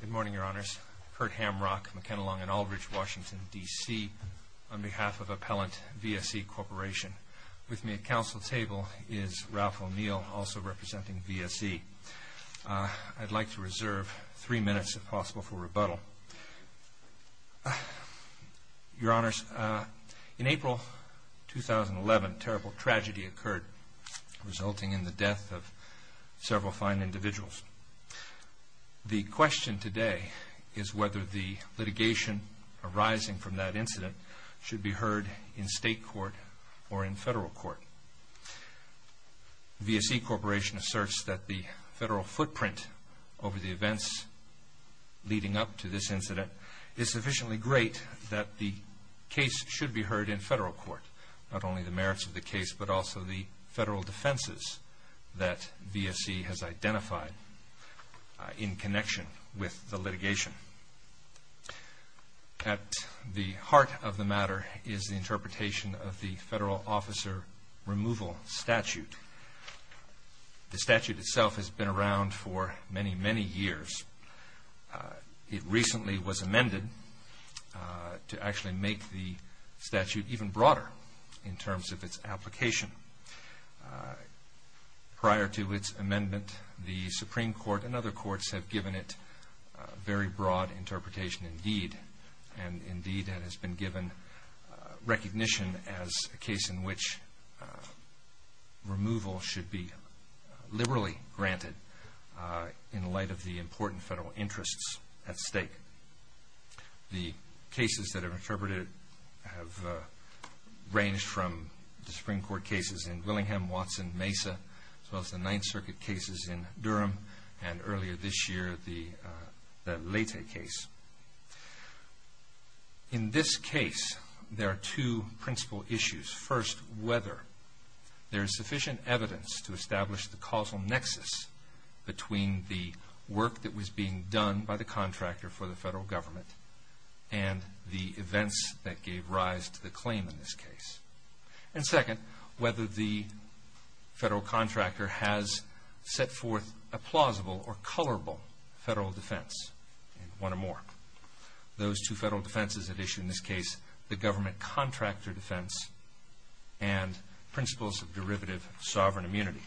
Good morning, Your Honors. Kurt Hamrock, McKenna Long & Aldridge, Washington, D.C. on behalf of Appellant VSE Corporation. With me at Council Table is Ralph O'Neill, also representing VSE. I'd like to reserve three minutes, if possible, for rebuttal. Your Honors, in April 2011, terrible tragedy occurred, resulting in the death of several fine individuals. The question today is whether the litigation arising from that incident should be heard in state court or in federal court. VSE Corporation asserts that the federal incident is sufficiently great that the case should be heard in federal court. Not only the merits of the case, but also the federal defenses that VSE has identified in connection with the litigation. At the heart of the matter is the interpretation of the Federal Officer Removal Statute. The statute itself has been around for many, many years. It recently was amended to actually make the statute even broader in terms of its application. Prior to its amendment, the Supreme Court and other courts have given it very broad interpretation indeed, and indeed it has been given recognition as a case in which removal should be liberally granted in light of the important federal interests at stake. The cases that are interpreted have ranged from the Supreme Court cases in Willingham, Watson, Mesa, as well as the Ninth Amendment. In this case, there are two principal issues. First, whether there is sufficient evidence to establish the causal nexus between the work that was being done by the contractor for the federal government and the events that gave rise to the claim in this case. And second, whether the federal contractor has set forth a plausible or colorable federal defense. One or more. Those two federal defenses at issue in this case, the government contractor defense and principles of derivative sovereign immunity.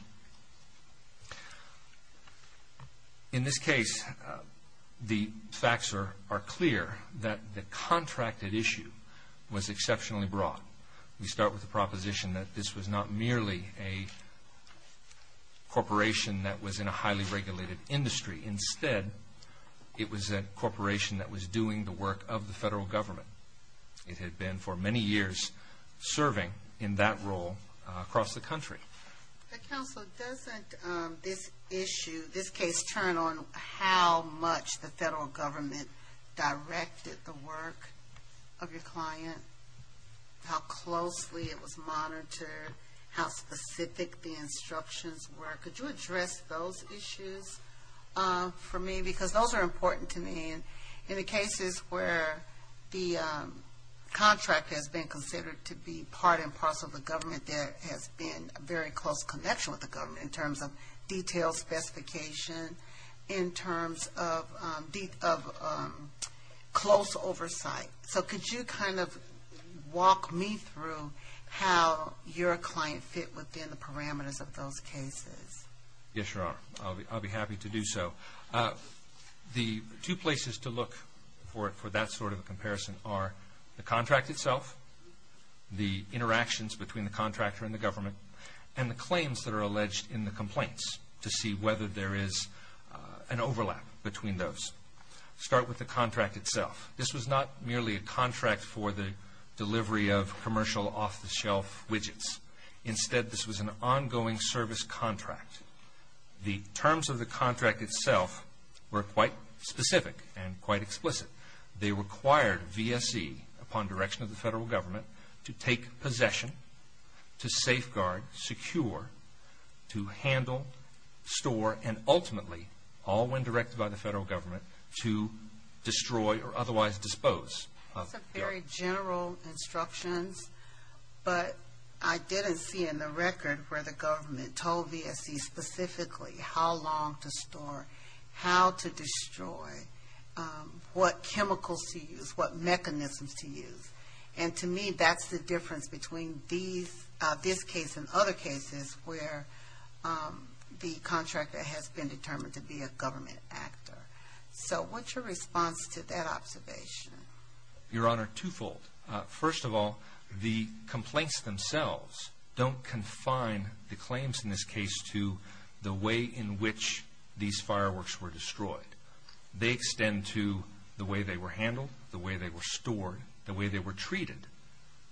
In this case, the facts are clear that the contracted issue was exceptionally broad. We start with the proposition that this was not merely a corporation that was in a highly regulated industry. Instead, it was a corporation that was doing the work of the federal government. It had been for many years serving in that role across the country. Counsel, doesn't this issue, this case turn on how much the federal government directed the work of your client? How closely it was monitored? How specific the instructions were? Could you address those issues for me? Because those are important to me. In the cases where the contract has been considered to be part and parcel of the government, there has been a very close connection with the government in terms of detailed specification, in terms of close oversight. So, could you kind of walk me through how your client fit within the parameters of those cases? Yes, Your Honor. I'll be happy to do so. The two places to look for that sort of comparison are the contract itself, the interactions between the contractor and the government, and the claims that are alleged in the complaints to see whether there is an overlap between those. Start with the contract itself. This was not merely a contract for the delivery of commercial off-the-shelf widgets. Instead, this was an ongoing service contract. The direction of the federal government to take possession, to safeguard, secure, to handle, store, and ultimately, all when directed by the federal government, to destroy or otherwise dispose of the... Those are very general instructions, but I didn't see in the record where the government told VSC specifically how long to store, how to destroy, what chemicals to use, what mechanisms to use. And to me, that's the difference between this case and other cases where the contractor has been determined to be a government actor. So, what's your response to that observation? Your Honor, twofold. First of all, the complaints themselves don't confine the claims in this case to the way in which these fireworks were destroyed. They extend to the way they were handled, the way they were stored, the way they were treated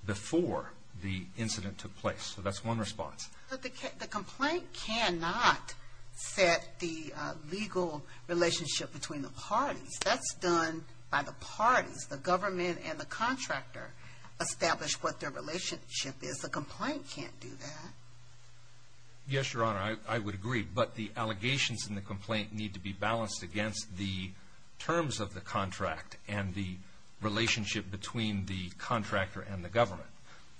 before the incident took place. So, that's one response. The complaint cannot set the legal relationship between the parties. That's done by the parties themselves. The government and the contractor establish what their relationship is. The complaint can't do that. Yes, Your Honor. I would agree, but the allegations in the complaint need to be balanced against the terms of the contract and the relationship between the contractor and the government.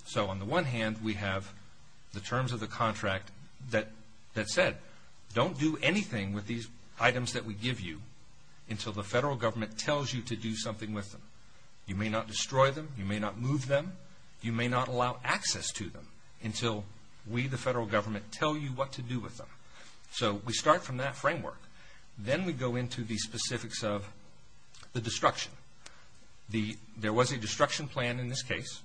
So on the one hand, we have the terms of the contract that said, don't do anything with these items that we give you until the federal government tells you to do something with them. You may not destroy them. You may not move them. You may not allow access to them until we, the federal government, tell you what to do with them. So, we start from that framework. Then we go into the specifics of the destruction. There was a destruction plan in this case.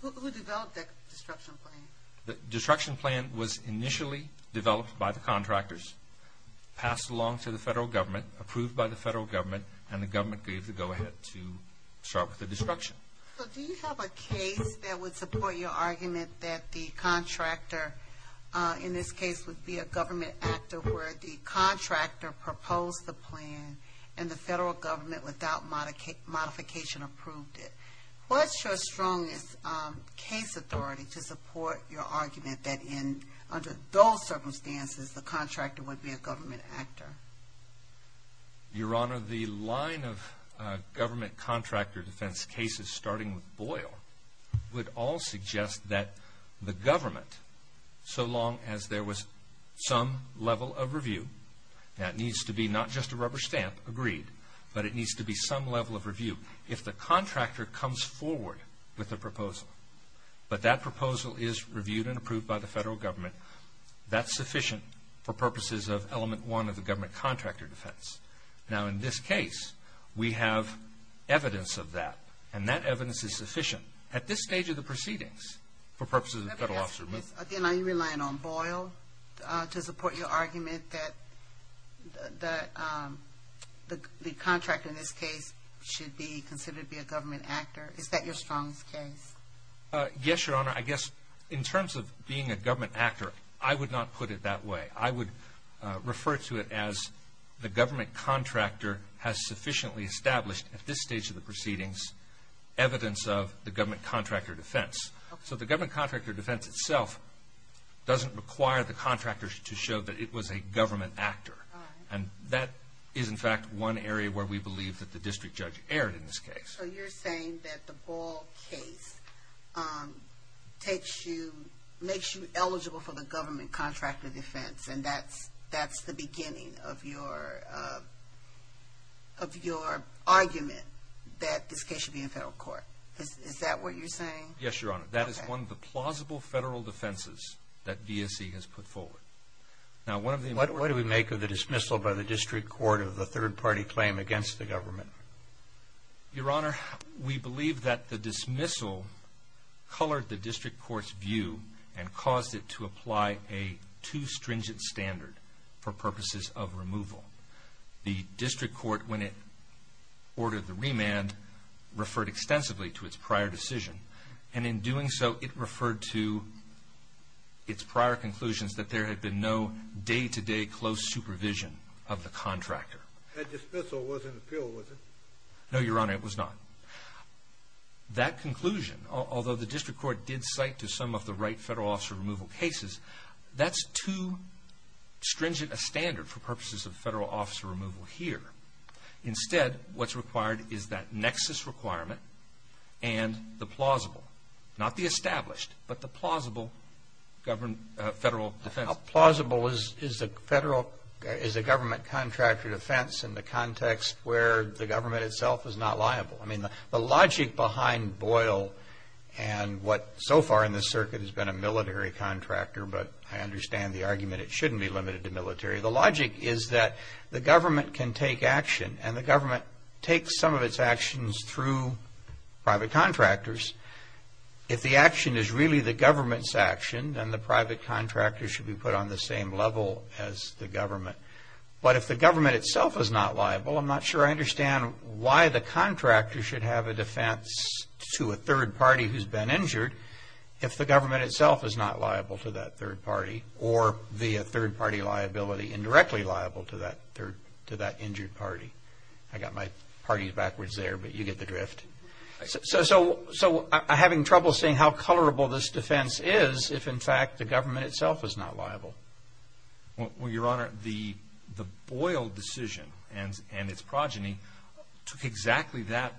Who developed that destruction plan? The destruction plan was initially developed by the contractors, passed along to the federal government, approved by the federal government, and the government gave the go-ahead to start with the destruction. So, do you have a case that would support your argument that the contractor, in this case, would be a government actor where the contractor proposed the plan and the federal government, without modification, approved it? What's your strongest case authority to support your argument that, under those circumstances, the contractor would be a government actor? Your Honor, the line of government contractor defense cases, starting with Boyle, would all suggest that the government, so long as there was some level of review, now it needs to be not just a rubber stamp, agreed, but it needs to be some level of review. If the proposal is reviewed and approved by the federal government, that's sufficient for purposes of element one of the government contractor defense. Now, in this case, we have evidence of that, and that evidence is sufficient, at this stage of the proceedings, for purposes of the federal officer of movement. Again, are you relying on Boyle to support your argument that the contractor, in this case, should be considered to be a government actor? Is that your strongest case? Yes, Your Honor. I guess, in terms of being a government actor, I would not put it that way. I would refer to it as the government contractor has sufficiently established, at this stage of the proceedings, evidence of the government contractor defense. So the government contractor defense itself doesn't require the contractor to show that it was a government actor, and that is, in fact, one area where we believe that the district judge erred in this case. So you're saying that the Boyle case makes you eligible for the government contractor defense, and that's the beginning of your argument that this case should be in federal court. Is that what you're saying? Yes, Your Honor. That is one of the plausible federal defenses that DSE has put forward. Now, one of the... What do we make of the dismissal by the district court of the third-party claim against the government? Your Honor, we believe that the dismissal colored the district court's view and caused it to apply a too stringent standard for purposes of removal. The district court, when it ordered the remand, referred extensively to its prior decision, and in doing so, it referred to its prior conclusions that there had been no day-to-day close supervision of the contractor. That dismissal wasn't appealed, was it? No, Your Honor, it was not. That conclusion, although the district court did cite to some of the right federal officer removal cases, that's too stringent a standard for purposes of federal officer removal here. Instead, what's required is that nexus requirement and the plausible, not the established, but the plausible federal defense. How plausible is a government contractor defense in the context where the government itself is not liable? I mean, the logic behind Boyle and what so far in the circuit has been a military contractor, but I understand the argument it shouldn't be limited to military. The logic is that the government can take action, and the government takes some of its actions through private contractors. If the action is really the government's action, then the private contractor should be put on the same level as the government. But if the government itself is not liable, I'm not sure I understand why the contractor should have a defense to a third party who's been injured if the government itself is not liable to that third party, or the third party liability indirectly liable to that injured party. I got my parties backwards there, but you get the drift. So having trouble seeing how colorable this defense is if, in fact, the government itself is not liable. Well, Your Honor, the Boyle decision and its progeny took exactly that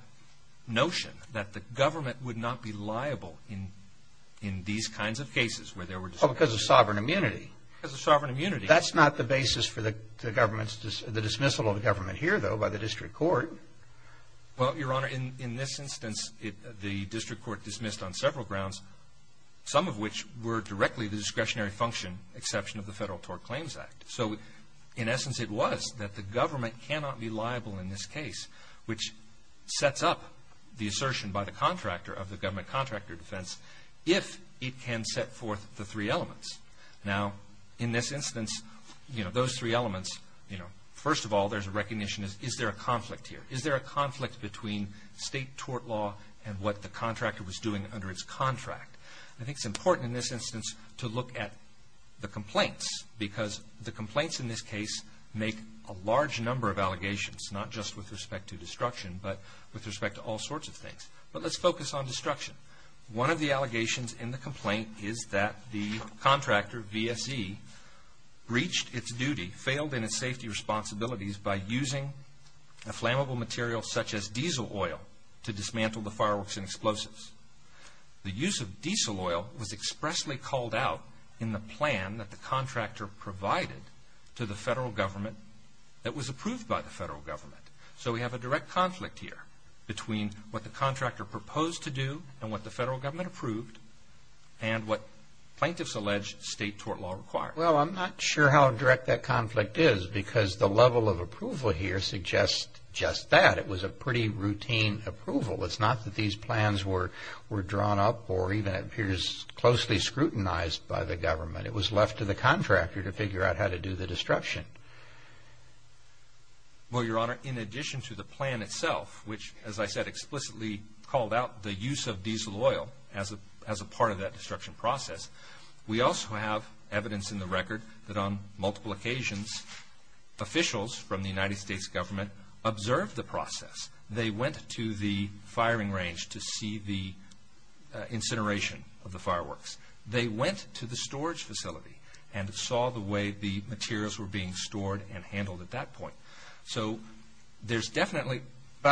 notion, that the government would not be liable in these kinds of cases where there were dismissals. Oh, because of sovereign immunity. Because of sovereign immunity. That's not the basis for the dismissal of the government here, though, by the district court. Well, Your Honor, in this instance, the district court dismissed on several grounds, some of which were directly the discretionary function exception of the Federal Tort Claims Act. So in essence, it was that the government cannot be liable in this case, which sets up the assertion by the contractor of the government contractor defense if it can set forth the three elements. Now, in this instance, you know, those three elements, you know, first of all, there's a recognition, is there a conflict here? Is there a conflict between state tort law and what the contractor was doing under its contract? I think it's important in this instance to look at the complaints, because the complaints in this case make a large number of allegations, not just with respect to destruction, but with respect to all sorts of things. But let's focus on destruction. One of the allegations in the complaint is that the contractor, VSE, breached its duty, failed in its safety responsibilities by using a flammable material such as diesel oil to dismantle the fireworks and explosives. The use of diesel oil was expressly called out in the plan that the contractor provided to the federal government that was approved by the federal government. So we have a direct conflict here between what the contractor proposed to do and what the federal government approved, and what plaintiffs allege state tort law requires. Well, I'm not sure how direct that conflict is, because the level of approval here suggests just that. It was a pretty routine approval. It's not that these plans were drawn up or even it appears closely scrutinized by the government. It was left to the contractor to figure out how to do the destruction. Well, Your Honor, in addition to the plan itself, which, as I said, explicitly called out the use of diesel oil as a part of that destruction process, we also have evidence in the record that on multiple occasions, officials from the United States government observed the process. They went to the firing range to see the incineration of the fireworks. They went to the storage facility and saw the way the materials were being stored and handled at that point. So there's definitely... Where's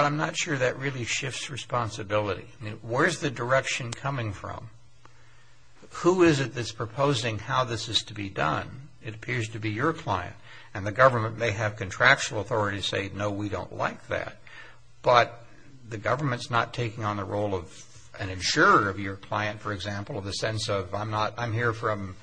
the direction coming from? Who is it that's proposing how this is to be done? It appears to be your client. And the government may have contractual authority to say, no, we don't like that. But the government's not taking on the role of an insurer of your client, for example, in the sense of I'm here from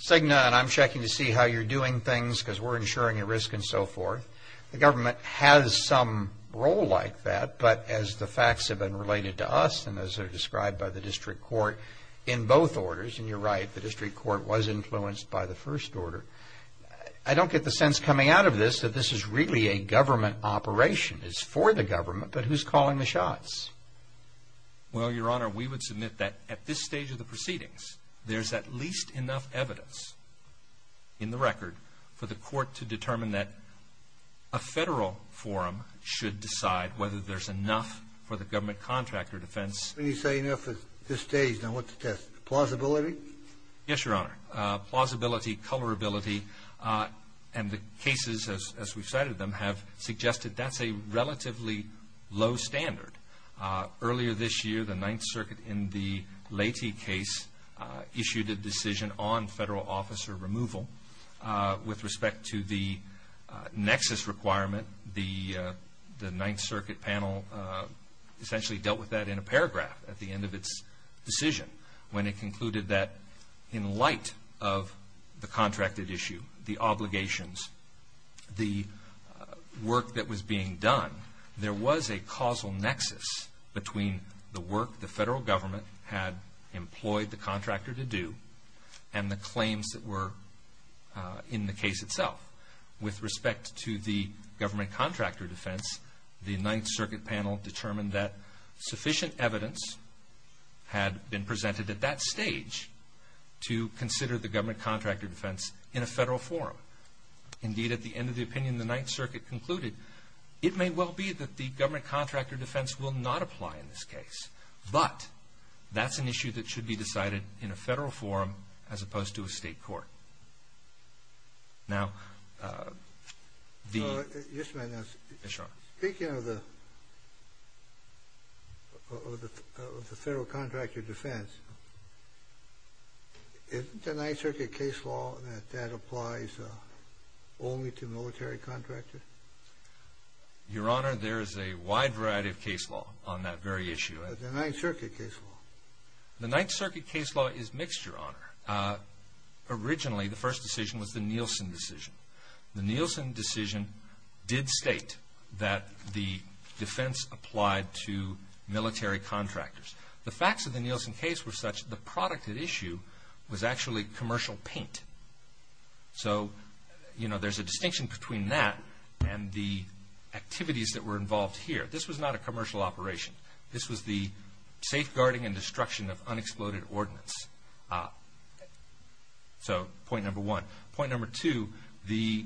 Cigna and I'm checking to see how you're doing things because we're insuring your risk and so forth. The government has some role like that, but as the facts have been related to us and as they're described by the district court in both orders, and you're right, the district court was influenced by the first order, I don't get the sense coming out of this that this is really a government operation. It's for the government, but who's calling the shots? Well, Your Honor, we would submit that at this stage of the proceedings, there's at least enough evidence in the record for the court to determine that a federal forum should decide whether there's enough for the government contract or defense. When you say enough at this stage, now what's the test? Plausibility? Yes, Your Honor. Plausibility, colorability, and the cases as we've cited them have suggested that's a relatively low standard. Earlier this year, the Ninth Circuit in the Latie case issued a decision on federal officer removal with respect to the nexus requirement, the Ninth Circuit panel essentially dealt with that in a paragraph at the end of its decision, when it concluded that in light of the contracted issue, the obligations, the work that was being done, there was a causal nexus between the work the federal government had employed the contractor to do and the claims that were in the case itself with respect to the government contractor defense, the Ninth Circuit panel determined that sufficient evidence had been presented at that stage to consider the government contractor defense in a federal forum. Indeed, at the end of the opinion, the Ninth Circuit concluded, it may well be that the government contractor defense will not apply in this case, but that's an issue that should be decided in a federal forum as opposed to a state court. Now, the... Yes, Your Honor. Yes, Your Honor. Speaking of the federal contractor defense, isn't the Ninth Circuit case law that that applies only to military contractors? Your Honor, there is a wide variety of case law on that very issue. But the Ninth Circuit case law. The Ninth Circuit case law is mixture, Your Honor. Originally, the first decision was the Nielsen decision. The Nielsen decision did state that the defense applied to military contractors. The facts of the Nielsen case were such, the product at issue was actually commercial paint. So, you know, there's a distinction between that and the activities that were involved here. This was not a commercial operation. This was the safeguarding and destruction of unexploded ordnance. So, point number one. Point number two, the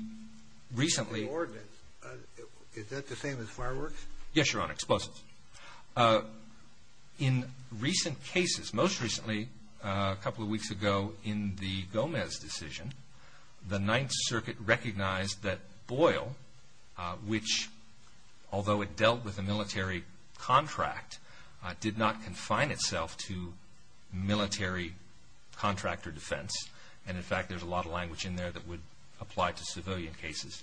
recently... The ordnance, is that the same as fireworks? Yes, Your Honor, explosives. In recent cases, most recently, a couple of weeks ago in the Gomez decision, the Ninth Circuit recognized that Boyle, which, although it dealt with a military contract, did not confine itself to military contractor defense. And, in fact, there's a lot of language in there that would apply to civilian cases.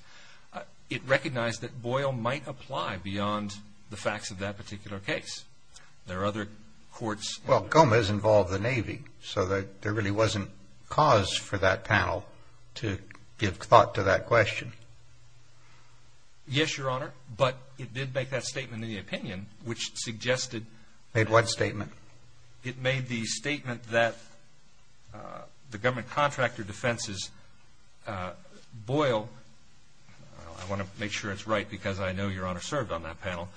It recognized that Boyle might apply beyond the facts of that particular case. There are other courts... So there really wasn't cause for that panel to give thought to that question. Yes, Your Honor, but it did make that statement in the opinion, which suggested... Made what statement? It made the statement that the government contractor defenses, Boyle... I want to make sure it's right because I know Your Honor served on that panel.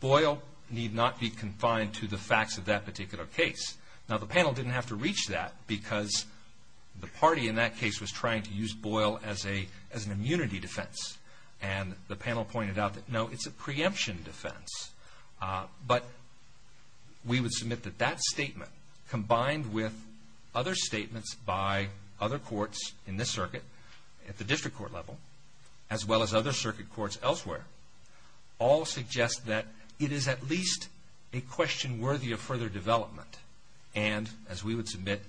Boyle need not be confined to the facts of that particular case. Now, the panel didn't have to reach that because the party in that case was trying to use Boyle as an immunity defense. And the panel pointed out that, no, it's a preemption defense. But we would submit that that statement, combined with other statements by other courts in this circuit, at the district court level, as well as other circuit courts elsewhere, all suggest that it is at least a question worthy of further development. And, as we would submit,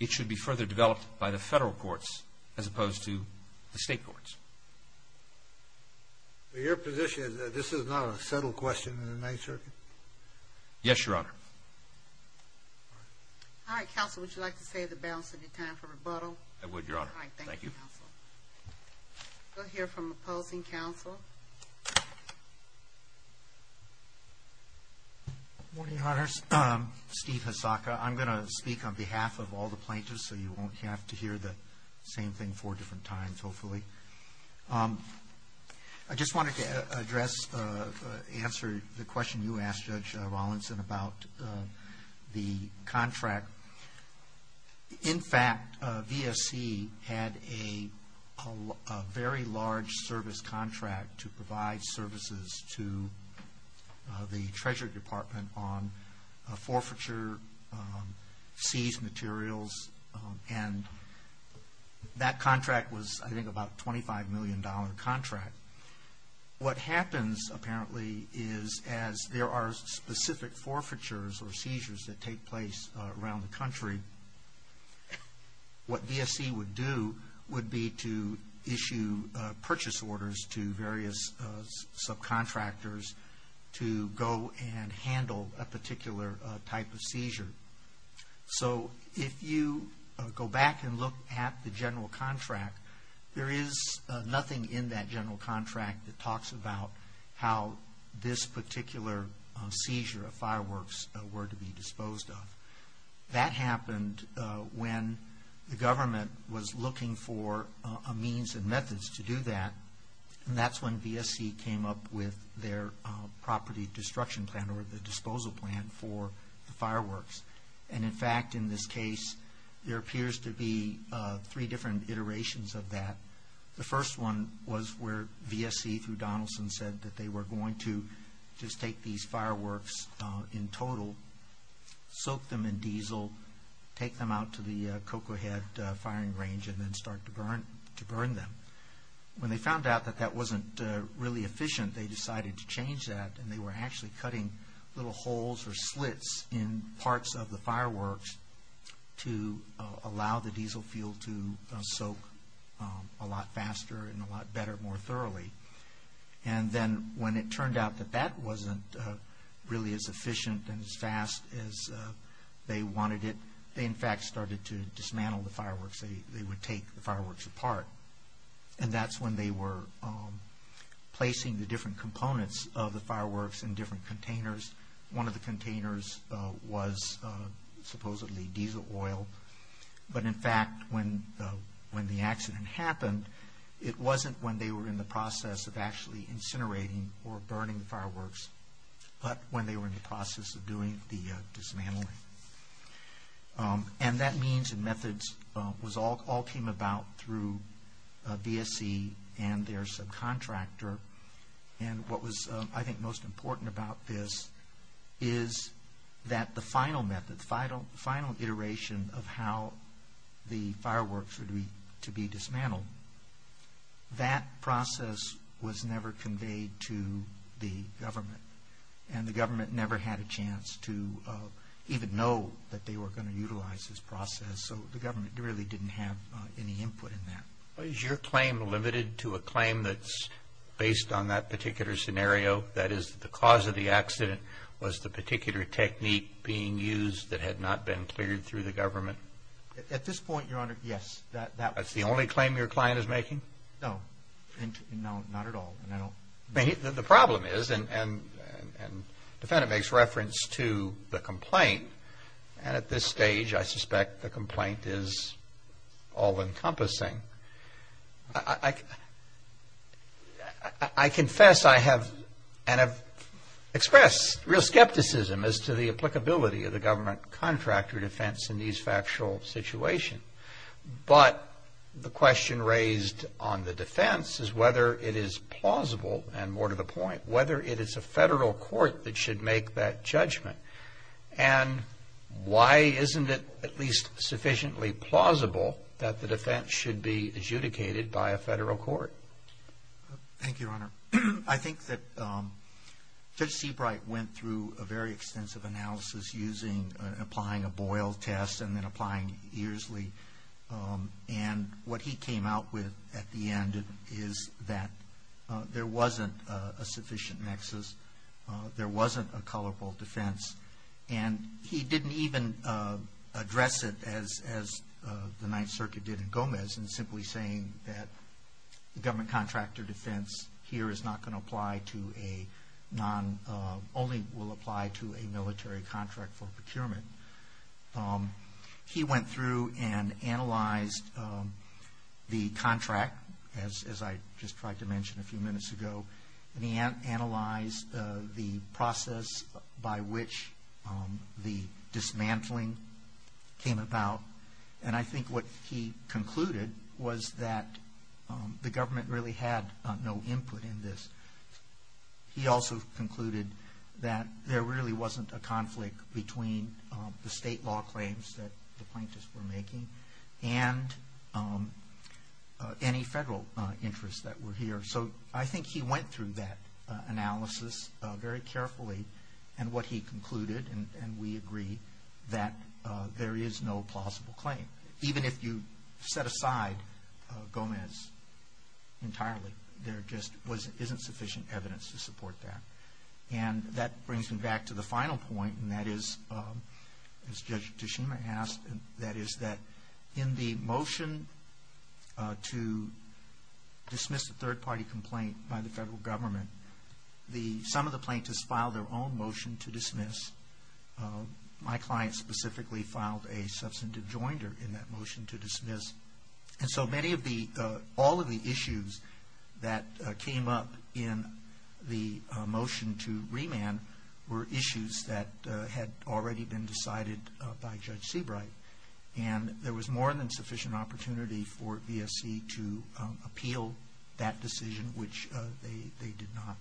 it should be further developed by the federal courts as opposed to the state courts. Your position is that this is not a settled question in the Ninth Circuit? Yes, Your Honor. All right, counsel, would you like to save the balance of your time for rebuttal? I would, Your Honor. Thank you. We'll hear from opposing counsel. Good morning, Your Honors. Steve Hasaka. I'm going to speak on behalf of all the plaintiffs so you won't have to hear the same thing four different times, hopefully. I just wanted to address, answer the question you asked Judge Rawlinson about the contract. In fact, VSC had a very large service contract to provide services to the Treasury Department on forfeiture, seized materials, and that contract was, I think, about a $25 million contract. What happens, apparently, is as there are specific forfeitures or seizures that take place around the country, what VSC would do would be to issue purchase orders to various subcontractors to go and handle a particular type of seizure. So if you go back and look at the general contract, there is nothing in that general contract that talks about how this particular seizure of fireworks were to be disposed of. That happened when the government was looking for a means and methods to do that, and that's when VSC came up with their property destruction plan or the disposal plan for the fireworks. And in fact, in this case, there appears to be three different iterations of that. The first one was where VSC, through Donaldson, said that they were going to just take these fireworks in total, soak them in diesel, take them out to the Cocoa Head firing range, and then start to burn them. When they found out that that wasn't really efficient, they decided to change that, and they were actually cutting little holes or slits in parts of the fireworks to allow the diesel fuel to soak a lot faster and a lot better more thoroughly. And then when it turned out that that wasn't really as efficient and as fast as they wanted it, they in fact started to dismantle the fireworks. They would take the fireworks apart, and that's when they were placing the different components of the fireworks in different containers. One of the containers was supposedly diesel oil, but in fact, when the accident happened, it wasn't when they were in the process of actually incinerating or burning the fireworks, but when they were in the process of doing the dismantling. And that means the methods all came about through VSC and their subcontractor. And what was, I think, most important about this is that the final method, the final iteration of how the fireworks were to be dismantled, that process was never conveyed to the government, and the government never had a chance to even know that they were going to utilize this process, so the government really didn't have any input in that. Is your claim limited to a claim that's based on that particular scenario, that is the cause of the accident was the particular technique being used that had not been cleared through the government? At this point, Your Honor, yes. That's the only claim your client is making? No. No, not at all. The problem is, and the defendant makes reference to the complaint, and at this stage I suspect the complaint is all-encompassing. I confess I have expressed real skepticism as to the applicability of the government contractor defense in these factual situations, but the question raised on the defense is whether it is plausible, and more to the point, whether it is a federal court that should make that judgment, and why isn't it at least sufficiently plausible that the defense should be adjudicated by a federal court? Thank you, Your Honor. I think that Judge Seabright went through a very extensive analysis applying a Boyle test and then applying Earsley, and what he came out with at the end is that there wasn't a sufficient nexus, there wasn't a colorful defense, and he didn't even address it as the Ninth Circuit did in Gomez in simply saying that the government contractor defense here is not going to apply to a non- only will apply to a military contract for procurement. He went through and analyzed the contract, as I just tried to mention a few minutes ago, and he analyzed the process by which the dismantling came about, and I think what he concluded was that the government really had no input in this. He also concluded that there really wasn't a conflict between the state law claims that the plaintiffs were making and any federal interests that were here. So I think he went through that analysis very carefully and what he concluded, and we agree that there is no plausible claim. Even if you set aside Gomez entirely, there just isn't sufficient evidence to support that. And that brings me back to the final point, and that is, as Judge Toshima asked, and that is that in the motion to dismiss a third-party complaint by the federal government, some of the plaintiffs filed their own motion to dismiss. My client specifically filed a substantive joinder in that motion to dismiss, and so all of the issues that came up in the motion to remand were issues that had already been decided by Judge Seabright, and there was more than sufficient opportunity for VSC to appeal that decision, which they did not.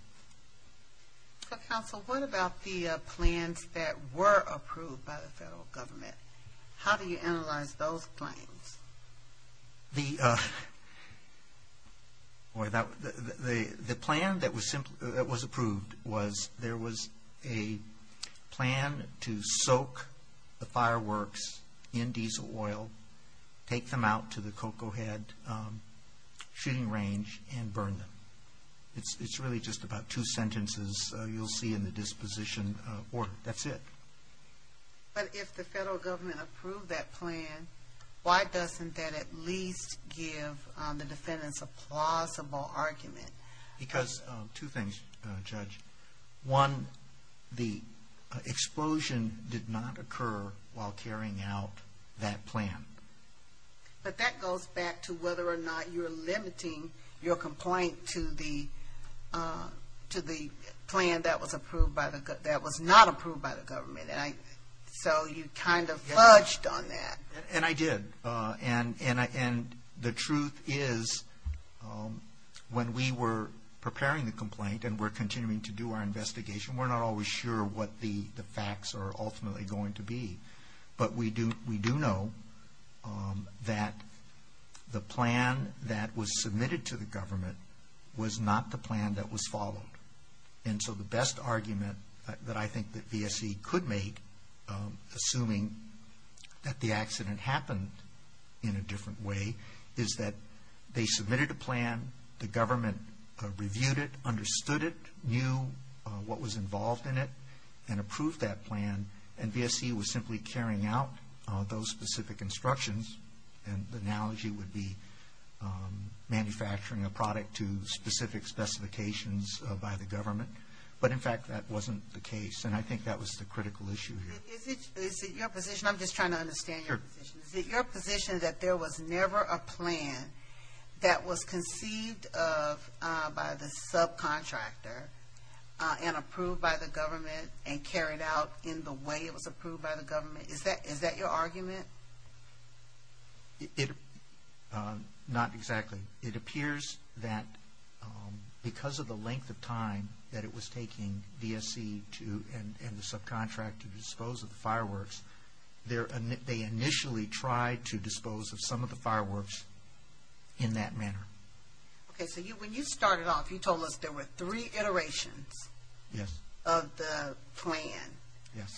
So, counsel, what about the plans that were approved by the federal government? How do you analyze those claims? The plan that was approved was there was a plan to soak the fireworks in diesel oil, take them out to the Cocoa Head shooting range, and burn them. It's really just about two sentences you'll see in the disposition order. That's it. But if the federal government approved that plan, why doesn't that at least give the defendants a plausible argument? Because two things, Judge. One, the explosion did not occur while carrying out that plan. But that goes back to whether or not you're limiting your complaint to the plan that was not approved by the government. So you kind of fudged on that. And I did. And the truth is when we were preparing the complaint and we're continuing to do our investigation, we're not always sure what the facts are ultimately going to be. But we do know that the plan that was submitted to the government was not the plan that was followed. And so the best argument that I think that VSE could make, assuming that the accident happened in a different way, is that they submitted a plan, the government reviewed it, understood it, knew what was involved in it, and approved that plan, and VSE was simply carrying out those specific instructions. And the analogy would be manufacturing a product to specific specifications by the government. But, in fact, that wasn't the case. And I think that was the critical issue here. Is it your position? I'm just trying to understand your position. Is it your position that there was never a plan that was conceived of by the subcontractor and approved by the government and carried out in the way it was approved by the government? Is that your argument? Not exactly. It appears that because of the length of time that it was taking VSE and the subcontractor to dispose of the fireworks, they initially tried to dispose of some of the fireworks in that manner. Okay, so when you started off, you told us there were three iterations of the plan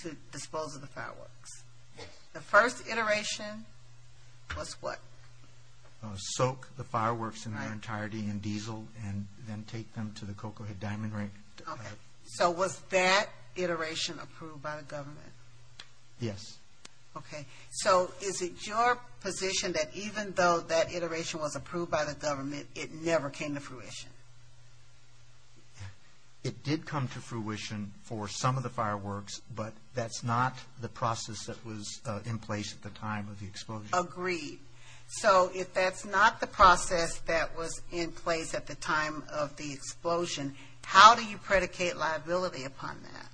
to dispose of the fireworks. The first iteration was what? Soak the fireworks in their entirety in diesel and then take them to the Cocoa Head Diamond Ring. So was that iteration approved by the government? Yes. Okay. So is it your position that even though that iteration was approved by the government, it never came to fruition? It did come to fruition for some of the fireworks, but that's not the process that was in place at the time of the explosion. Agreed. So if that's not the process that was in place at the time of the explosion, how do you predicate liability upon that?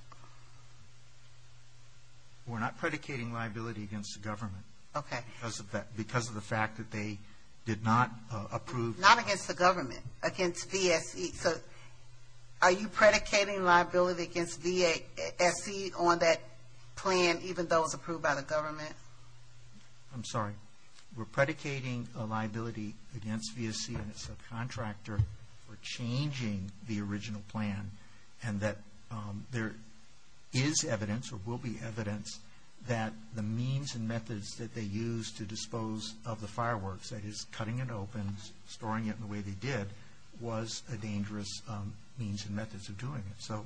We're not predicating liability against the government because of the fact that they did not approve. Not against the government, against VSE. So are you predicating liability against VSE on that plan, even though it was approved by the government? I'm sorry. We're predicating a liability against VSE and the subcontractor for changing the original plan and that there is evidence or will be evidence that the means and methods that they used to dispose of the fireworks, that is cutting it open, storing it in the way they did, was a dangerous means and methods of doing it. So,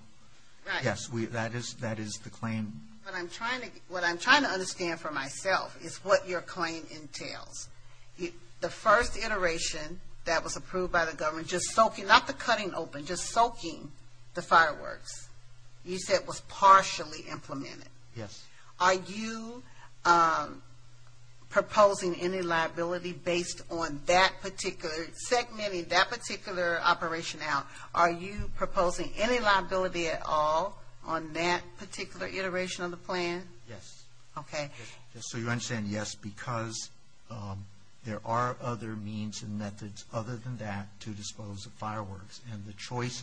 yes, that is the claim. What I'm trying to understand for myself is what your claim entails. The first iteration that was approved by the government, just soaking, not the cutting open, just soaking the fireworks, you said was partially implemented. Yes. Are you proposing any liability based on that particular, segmenting that particular operation out, are you proposing any liability at all on that particular iteration of the plan? Yes. Okay. So you understand, yes, because there are other means and methods other than that to dispose of fireworks. And the choice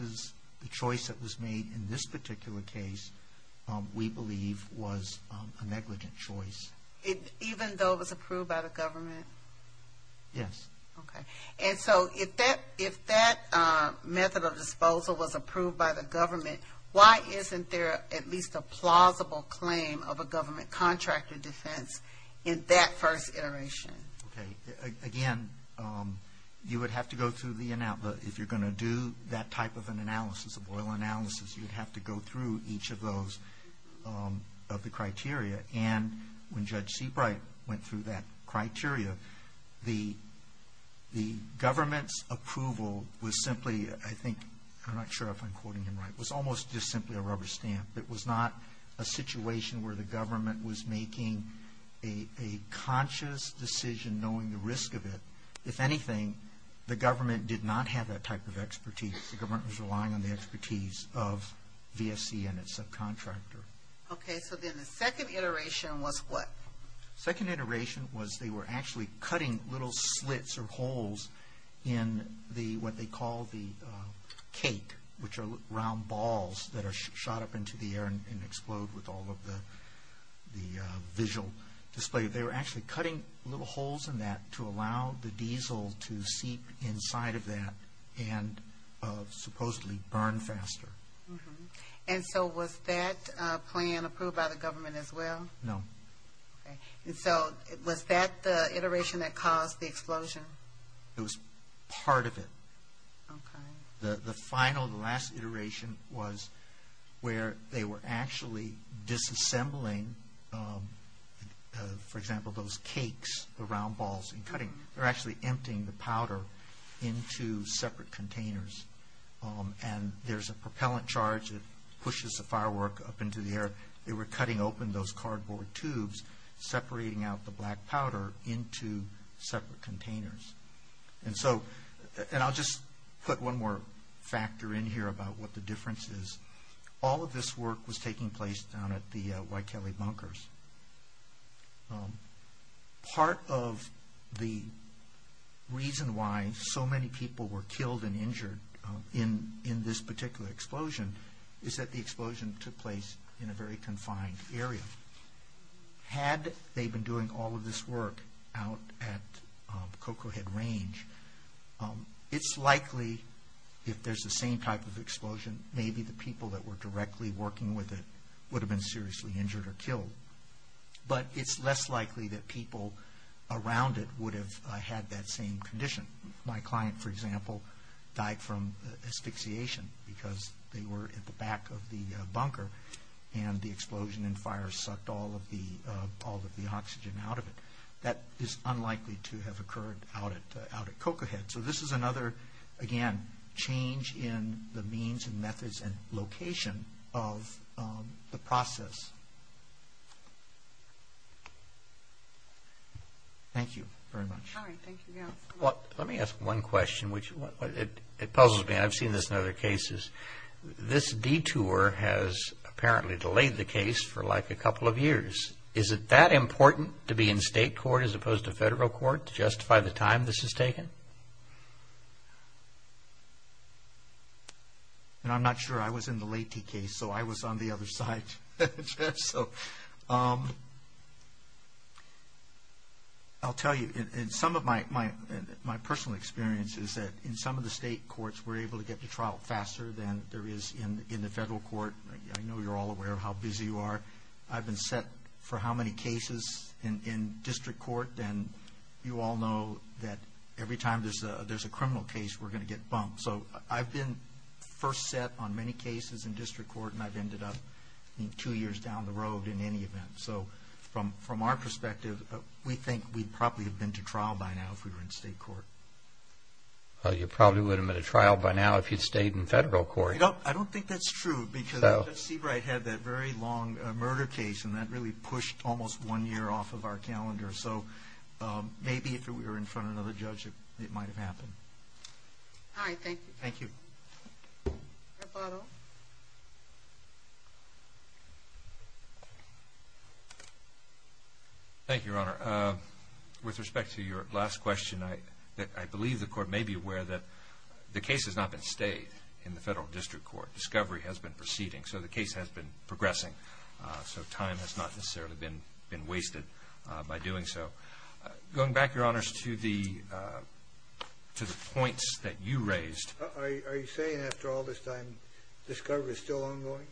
that was made in this particular case, we believe, was a negligent choice. Even though it was approved by the government? Yes. Okay. And so if that method of disposal was approved by the government, why isn't there at least a plausible claim of a government contractor defense in that first iteration? Okay. Again, you would have to go through the, if you're going to do that type of an analysis, a boil analysis, you would have to go through each of those, of the criteria. And when Judge Seabright went through that criteria, the government's approval was simply, I think, I'm not sure if I'm quoting him right, was almost just simply a rubber stamp. It was not a situation where the government was making a conscious decision knowing the risk of it. If anything, the government did not have that type of expertise. The government was relying on the expertise of VSC and its subcontractor. Okay. So then the second iteration was what? Second iteration was they were actually cutting little slits or holes in what they call the cake, which are round balls that are shot up into the air and explode with all of the visual display. They were actually cutting little holes in that to allow the diesel to seep inside of that and supposedly burn faster. And so was that plan approved by the government as well? No. Okay. And so was that the iteration that caused the explosion? It was part of it. Okay. The final, the last iteration was where they were actually disassembling, for example, those cakes, the round balls, and cutting. They were actually emptying the powder into separate containers. And there's a propellant charge that pushes the firework up into the air. They were cutting open those cardboard tubes, separating out the black powder into separate containers. And so, and I'll just put one more factor in here about what the difference is. All of this work was taking place down at the White Kelly bunkers. Part of the reason why so many people were killed and injured in this particular explosion is that the explosion took place in a very confined area. Had they been doing all of this work out at Cocoa Head Range, it's likely if there's the same type of explosion, maybe the people that were directly working with it would have been seriously injured or killed. But it's less likely that people around it would have had that same condition. My client, for example, died from asphyxiation because they were at the back of the bunker and the explosion and fire sucked all of the oxygen out of it. That is unlikely to have occurred out at Cocoa Head. So this is another, again, change in the means and methods and location of the process. Thank you very much. All right. Thank you, Gail. Well, let me ask one question, which it puzzles me. I've seen this in other cases. This detour has apparently delayed the case for like a couple of years. Is it that important to be in state court as opposed to federal court to justify the time this has taken? I'm not sure. I was in the Leyte case, so I was on the other side. So I'll tell you, in some of my personal experience is that in some of the state courts, we're able to get to trial faster than there is in the federal court. I know you're all aware of how busy you are. I've been set for how many cases in district court, and you all know that every time there's a criminal case, we're going to get bumped. So I've been first set on many cases in district court, and I've ended up two years down the road in any event. So from our perspective, we think we'd probably have been to trial by now if we were in state court. You probably wouldn't have been to trial by now if you'd stayed in federal court. I don't think that's true, because Judge Seabright had that very long murder case, and that really pushed almost one year off of our calendar. So maybe if we were in front of another judge, it might have happened. All right. Thank you. Thank you. Thank you, Your Honor. With respect to your last question, I believe the court may be aware that the case has not been stayed in the federal district court. Discovery has been proceeding, so the case has been progressing. So time has not necessarily been wasted by doing so. Going back, Your Honors, to the points that you raised. Are you saying after all this time, discovery is still ongoing?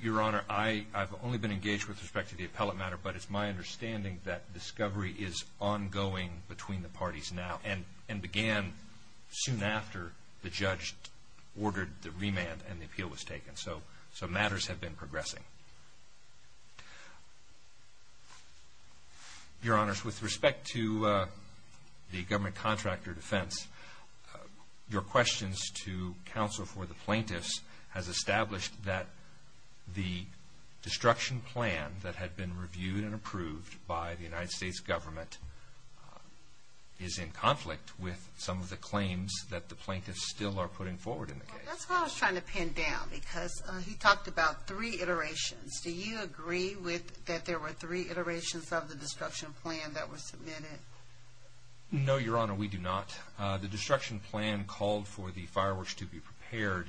Your Honor, I've only been engaged with respect to the appellate matter, but it's my understanding that discovery is ongoing between the parties now and began soon after the judge ordered the remand and the appeal was taken. So matters have been progressing. Your Honors, with respect to the government contractor defense, your questions to counsel for the plaintiffs has established that the destruction plan that had been reviewed and approved by the United States government is in conflict with some of the claims that the plaintiffs still are putting forward in the case. That's what I was trying to pin down, because he talked about three iterations. Do you agree that there were three iterations of the destruction plan that were submitted? No, Your Honor, we do not. The destruction plan called for the fireworks to be prepared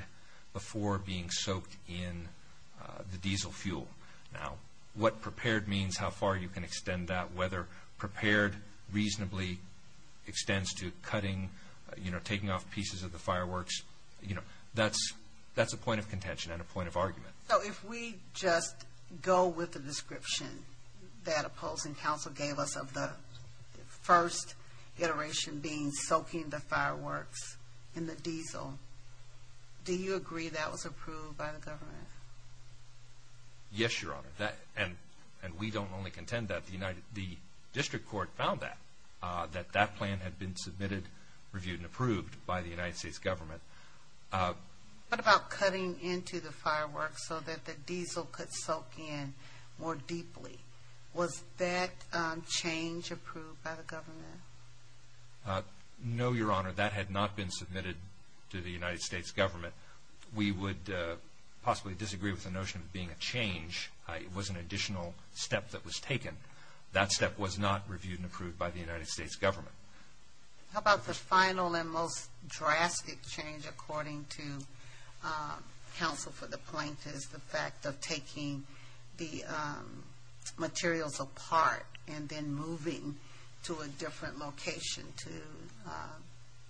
before being soaked in the diesel fuel. Now, what prepared means, how far you can extend that, whether prepared reasonably extends to cutting, taking off pieces of the fireworks, that's a point of contention and a point of argument. So if we just go with the description that opposing counsel gave us of the first iteration being soaking the fireworks in the diesel, do you agree that was approved by the government? Yes, Your Honor, and we don't only contend that. The district court found that, that that plan had been submitted, reviewed, and approved by the United States government. What about cutting into the fireworks so that the diesel could soak in more deeply? Was that change approved by the government? No, Your Honor, that had not been submitted to the United States government. We would possibly disagree with the notion of being a change. It was an additional step that was taken. That step was not reviewed and approved by the United States government. How about the final and most drastic change according to counsel for the plaintiffs, the fact of taking the materials apart and then moving to a different location to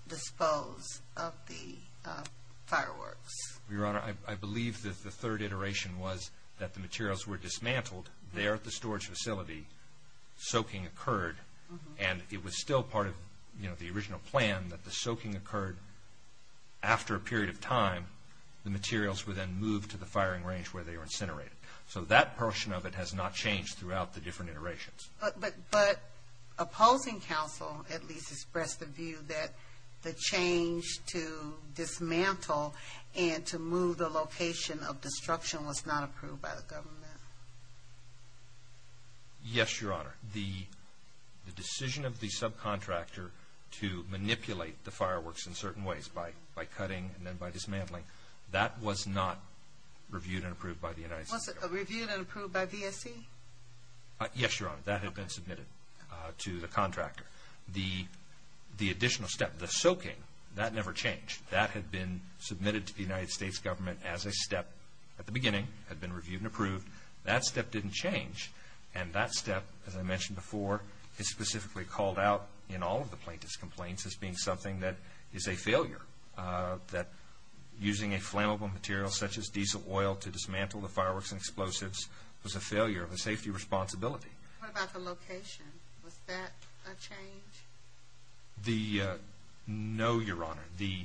dispose of the fireworks? Your Honor, I believe that the third iteration was that the materials were dismantled there at the storage facility, soaking occurred, and it was still part of the original plan that the soaking occurred after a period of time. The materials were then moved to the firing range where they were incinerated. So that portion of it has not changed throughout the different iterations. But opposing counsel at least expressed the view that the change to dismantle and to move the location of destruction was not approved by the government. Yes, Your Honor, the decision of the subcontractor to manipulate the fireworks in certain ways, by cutting and then by dismantling, that was not reviewed and approved by the United States government. Was it reviewed and approved by VSC? Yes, Your Honor, that had been submitted to the contractor. The additional step, the soaking, that never changed. That had been submitted to the United States government as a step at the beginning, had been reviewed and approved. That step didn't change, and that step, as I mentioned before, is specifically called out in all of the plaintiff's complaints as being something that is a failure, that using a flammable material such as diesel oil to dismantle the fireworks and explosives was a failure of a safety responsibility. What about the location? Was that a change? No, Your Honor, the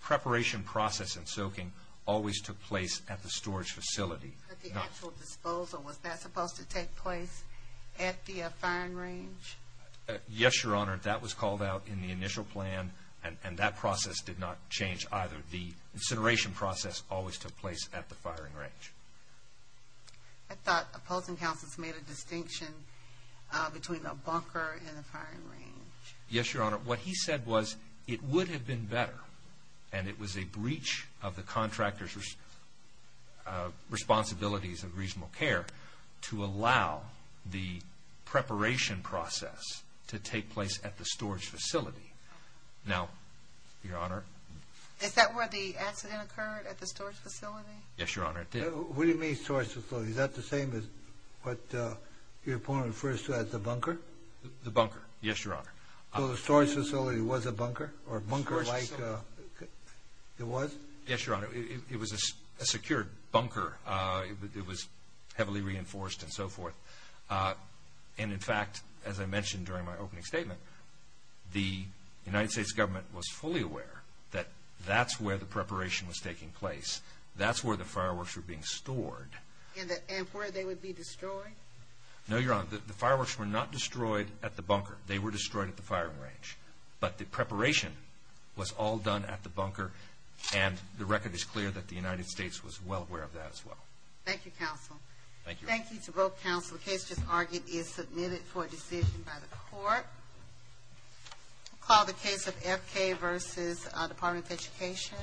preparation process and soaking always took place at the storage facility. But the actual disposal, was that supposed to take place at the firing range? Yes, Your Honor, that was called out in the initial plan, and that process did not change either. The incineration process always took place at the firing range. I thought opposing counsels made a distinction between a bunker and a firing range. Yes, Your Honor, what he said was it would have been better, and it was a breach of the contractor's responsibilities of reasonable care to allow the preparation process to take place at the storage facility. Now, Your Honor... Is that where the accident occurred, at the storage facility? Yes, Your Honor, it did. What do you mean, storage facility? Is that the same as what your opponent refers to as the bunker? The bunker, yes, Your Honor. So the storage facility was a bunker, or a bunker like it was? Yes, Your Honor, it was a secured bunker. It was heavily reinforced and so forth. And in fact, as I mentioned during my opening statement, the United States government was fully aware that that's where the preparation was taking place. That's where the fireworks were being stored. And where they would be destroyed? No, Your Honor, the fireworks were not destroyed at the bunker. They were destroyed at the firing range. But the preparation was all done at the bunker, and the record is clear that the United States was well aware of that as well. Thank you, counsel. Thank you. The case just argued is submitted for decision by the court. I'll call the case of FK v. Department of Education.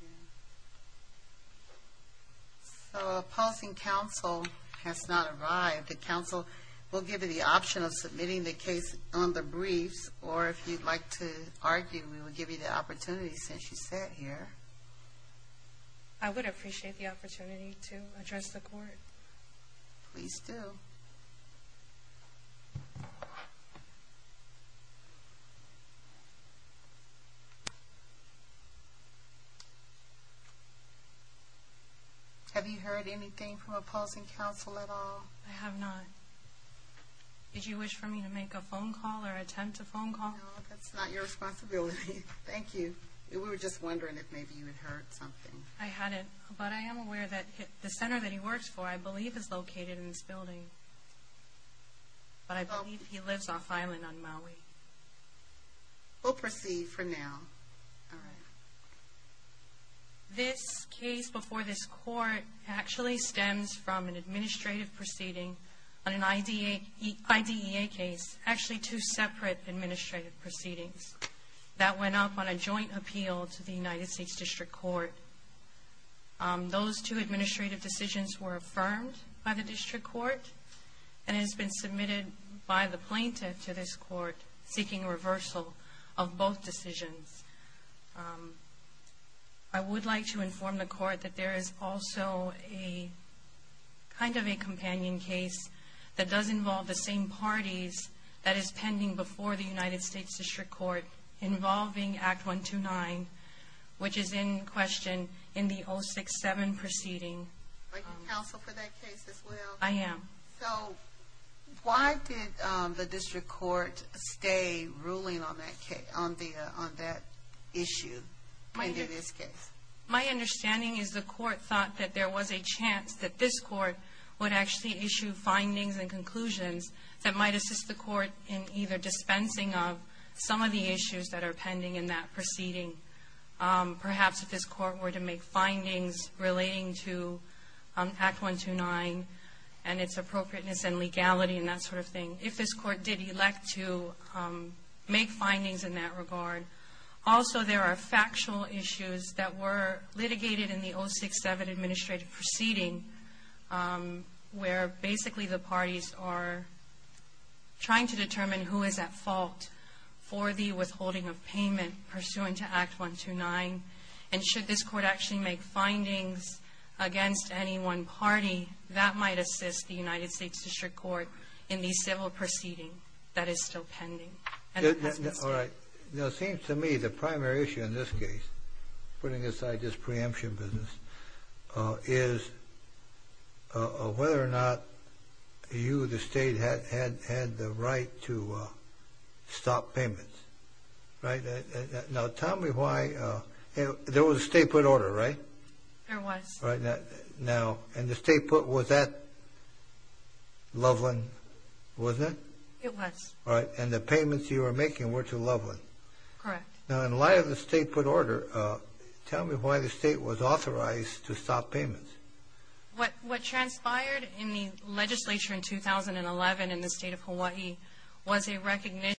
Please. So opposing counsel has not arrived. The counsel will give you the option of submitting the case on the briefs, or if you'd like to argue, we will give you the opportunity since you sat here. Please do. Have you heard anything from opposing counsel at all? I have not. Did you wish for me to make a phone call or attempt a phone call? No, that's not your responsibility. Thank you. We were just wondering if maybe you had heard something. I hadn't, but I am aware that the center that he works for, I believe is located in this building, but I believe he lives off-island on Maui. We'll proceed for now. All right. This case before this court actually stems from an administrative proceeding on an IDEA case, actually two separate administrative proceedings that went up on a joint appeal to the United States District Court. Those two administrative decisions were affirmed by the District Court and has been submitted by the plaintiff to this court seeking reversal of both decisions. I would like to inform the court that there is also a kind of a companion case that does involve the same parties that is pending before the United States District Court involving Act 129, which is in question in the 067 proceeding. Are you counsel for that case as well? I am. So why did the District Court stay ruling on that issue in this case? My understanding is the court thought that there was a chance that this court in either dispensing of some of the issues that are pending in that proceeding, perhaps if this court were to make findings relating to Act 129 and its appropriateness and legality and that sort of thing, if this court did elect to make findings in that regard. Also, there are factual issues that were litigated in the 067 administrative proceeding where basically the parties are trying to determine who is at fault for the withholding of payment pursuant to Act 129. And should this court actually make findings against any one party, that might assist the United States District Court in the civil proceeding that is still pending. All right. It seems to me the primary issue in this case, putting aside this preemption business, is whether or not you, the State, had the right to stop payments. Right? Now, tell me why. There was a State put order, right? There was. All right. Now, and the State put, was that Loveland, wasn't it? It was. All right. And the payments you were making were to Loveland. Correct. Now, in light of the State put order, tell me why the State was authorized to stop payments. What transpired in the legislature in 2011 in the State of Hawaii was a recognition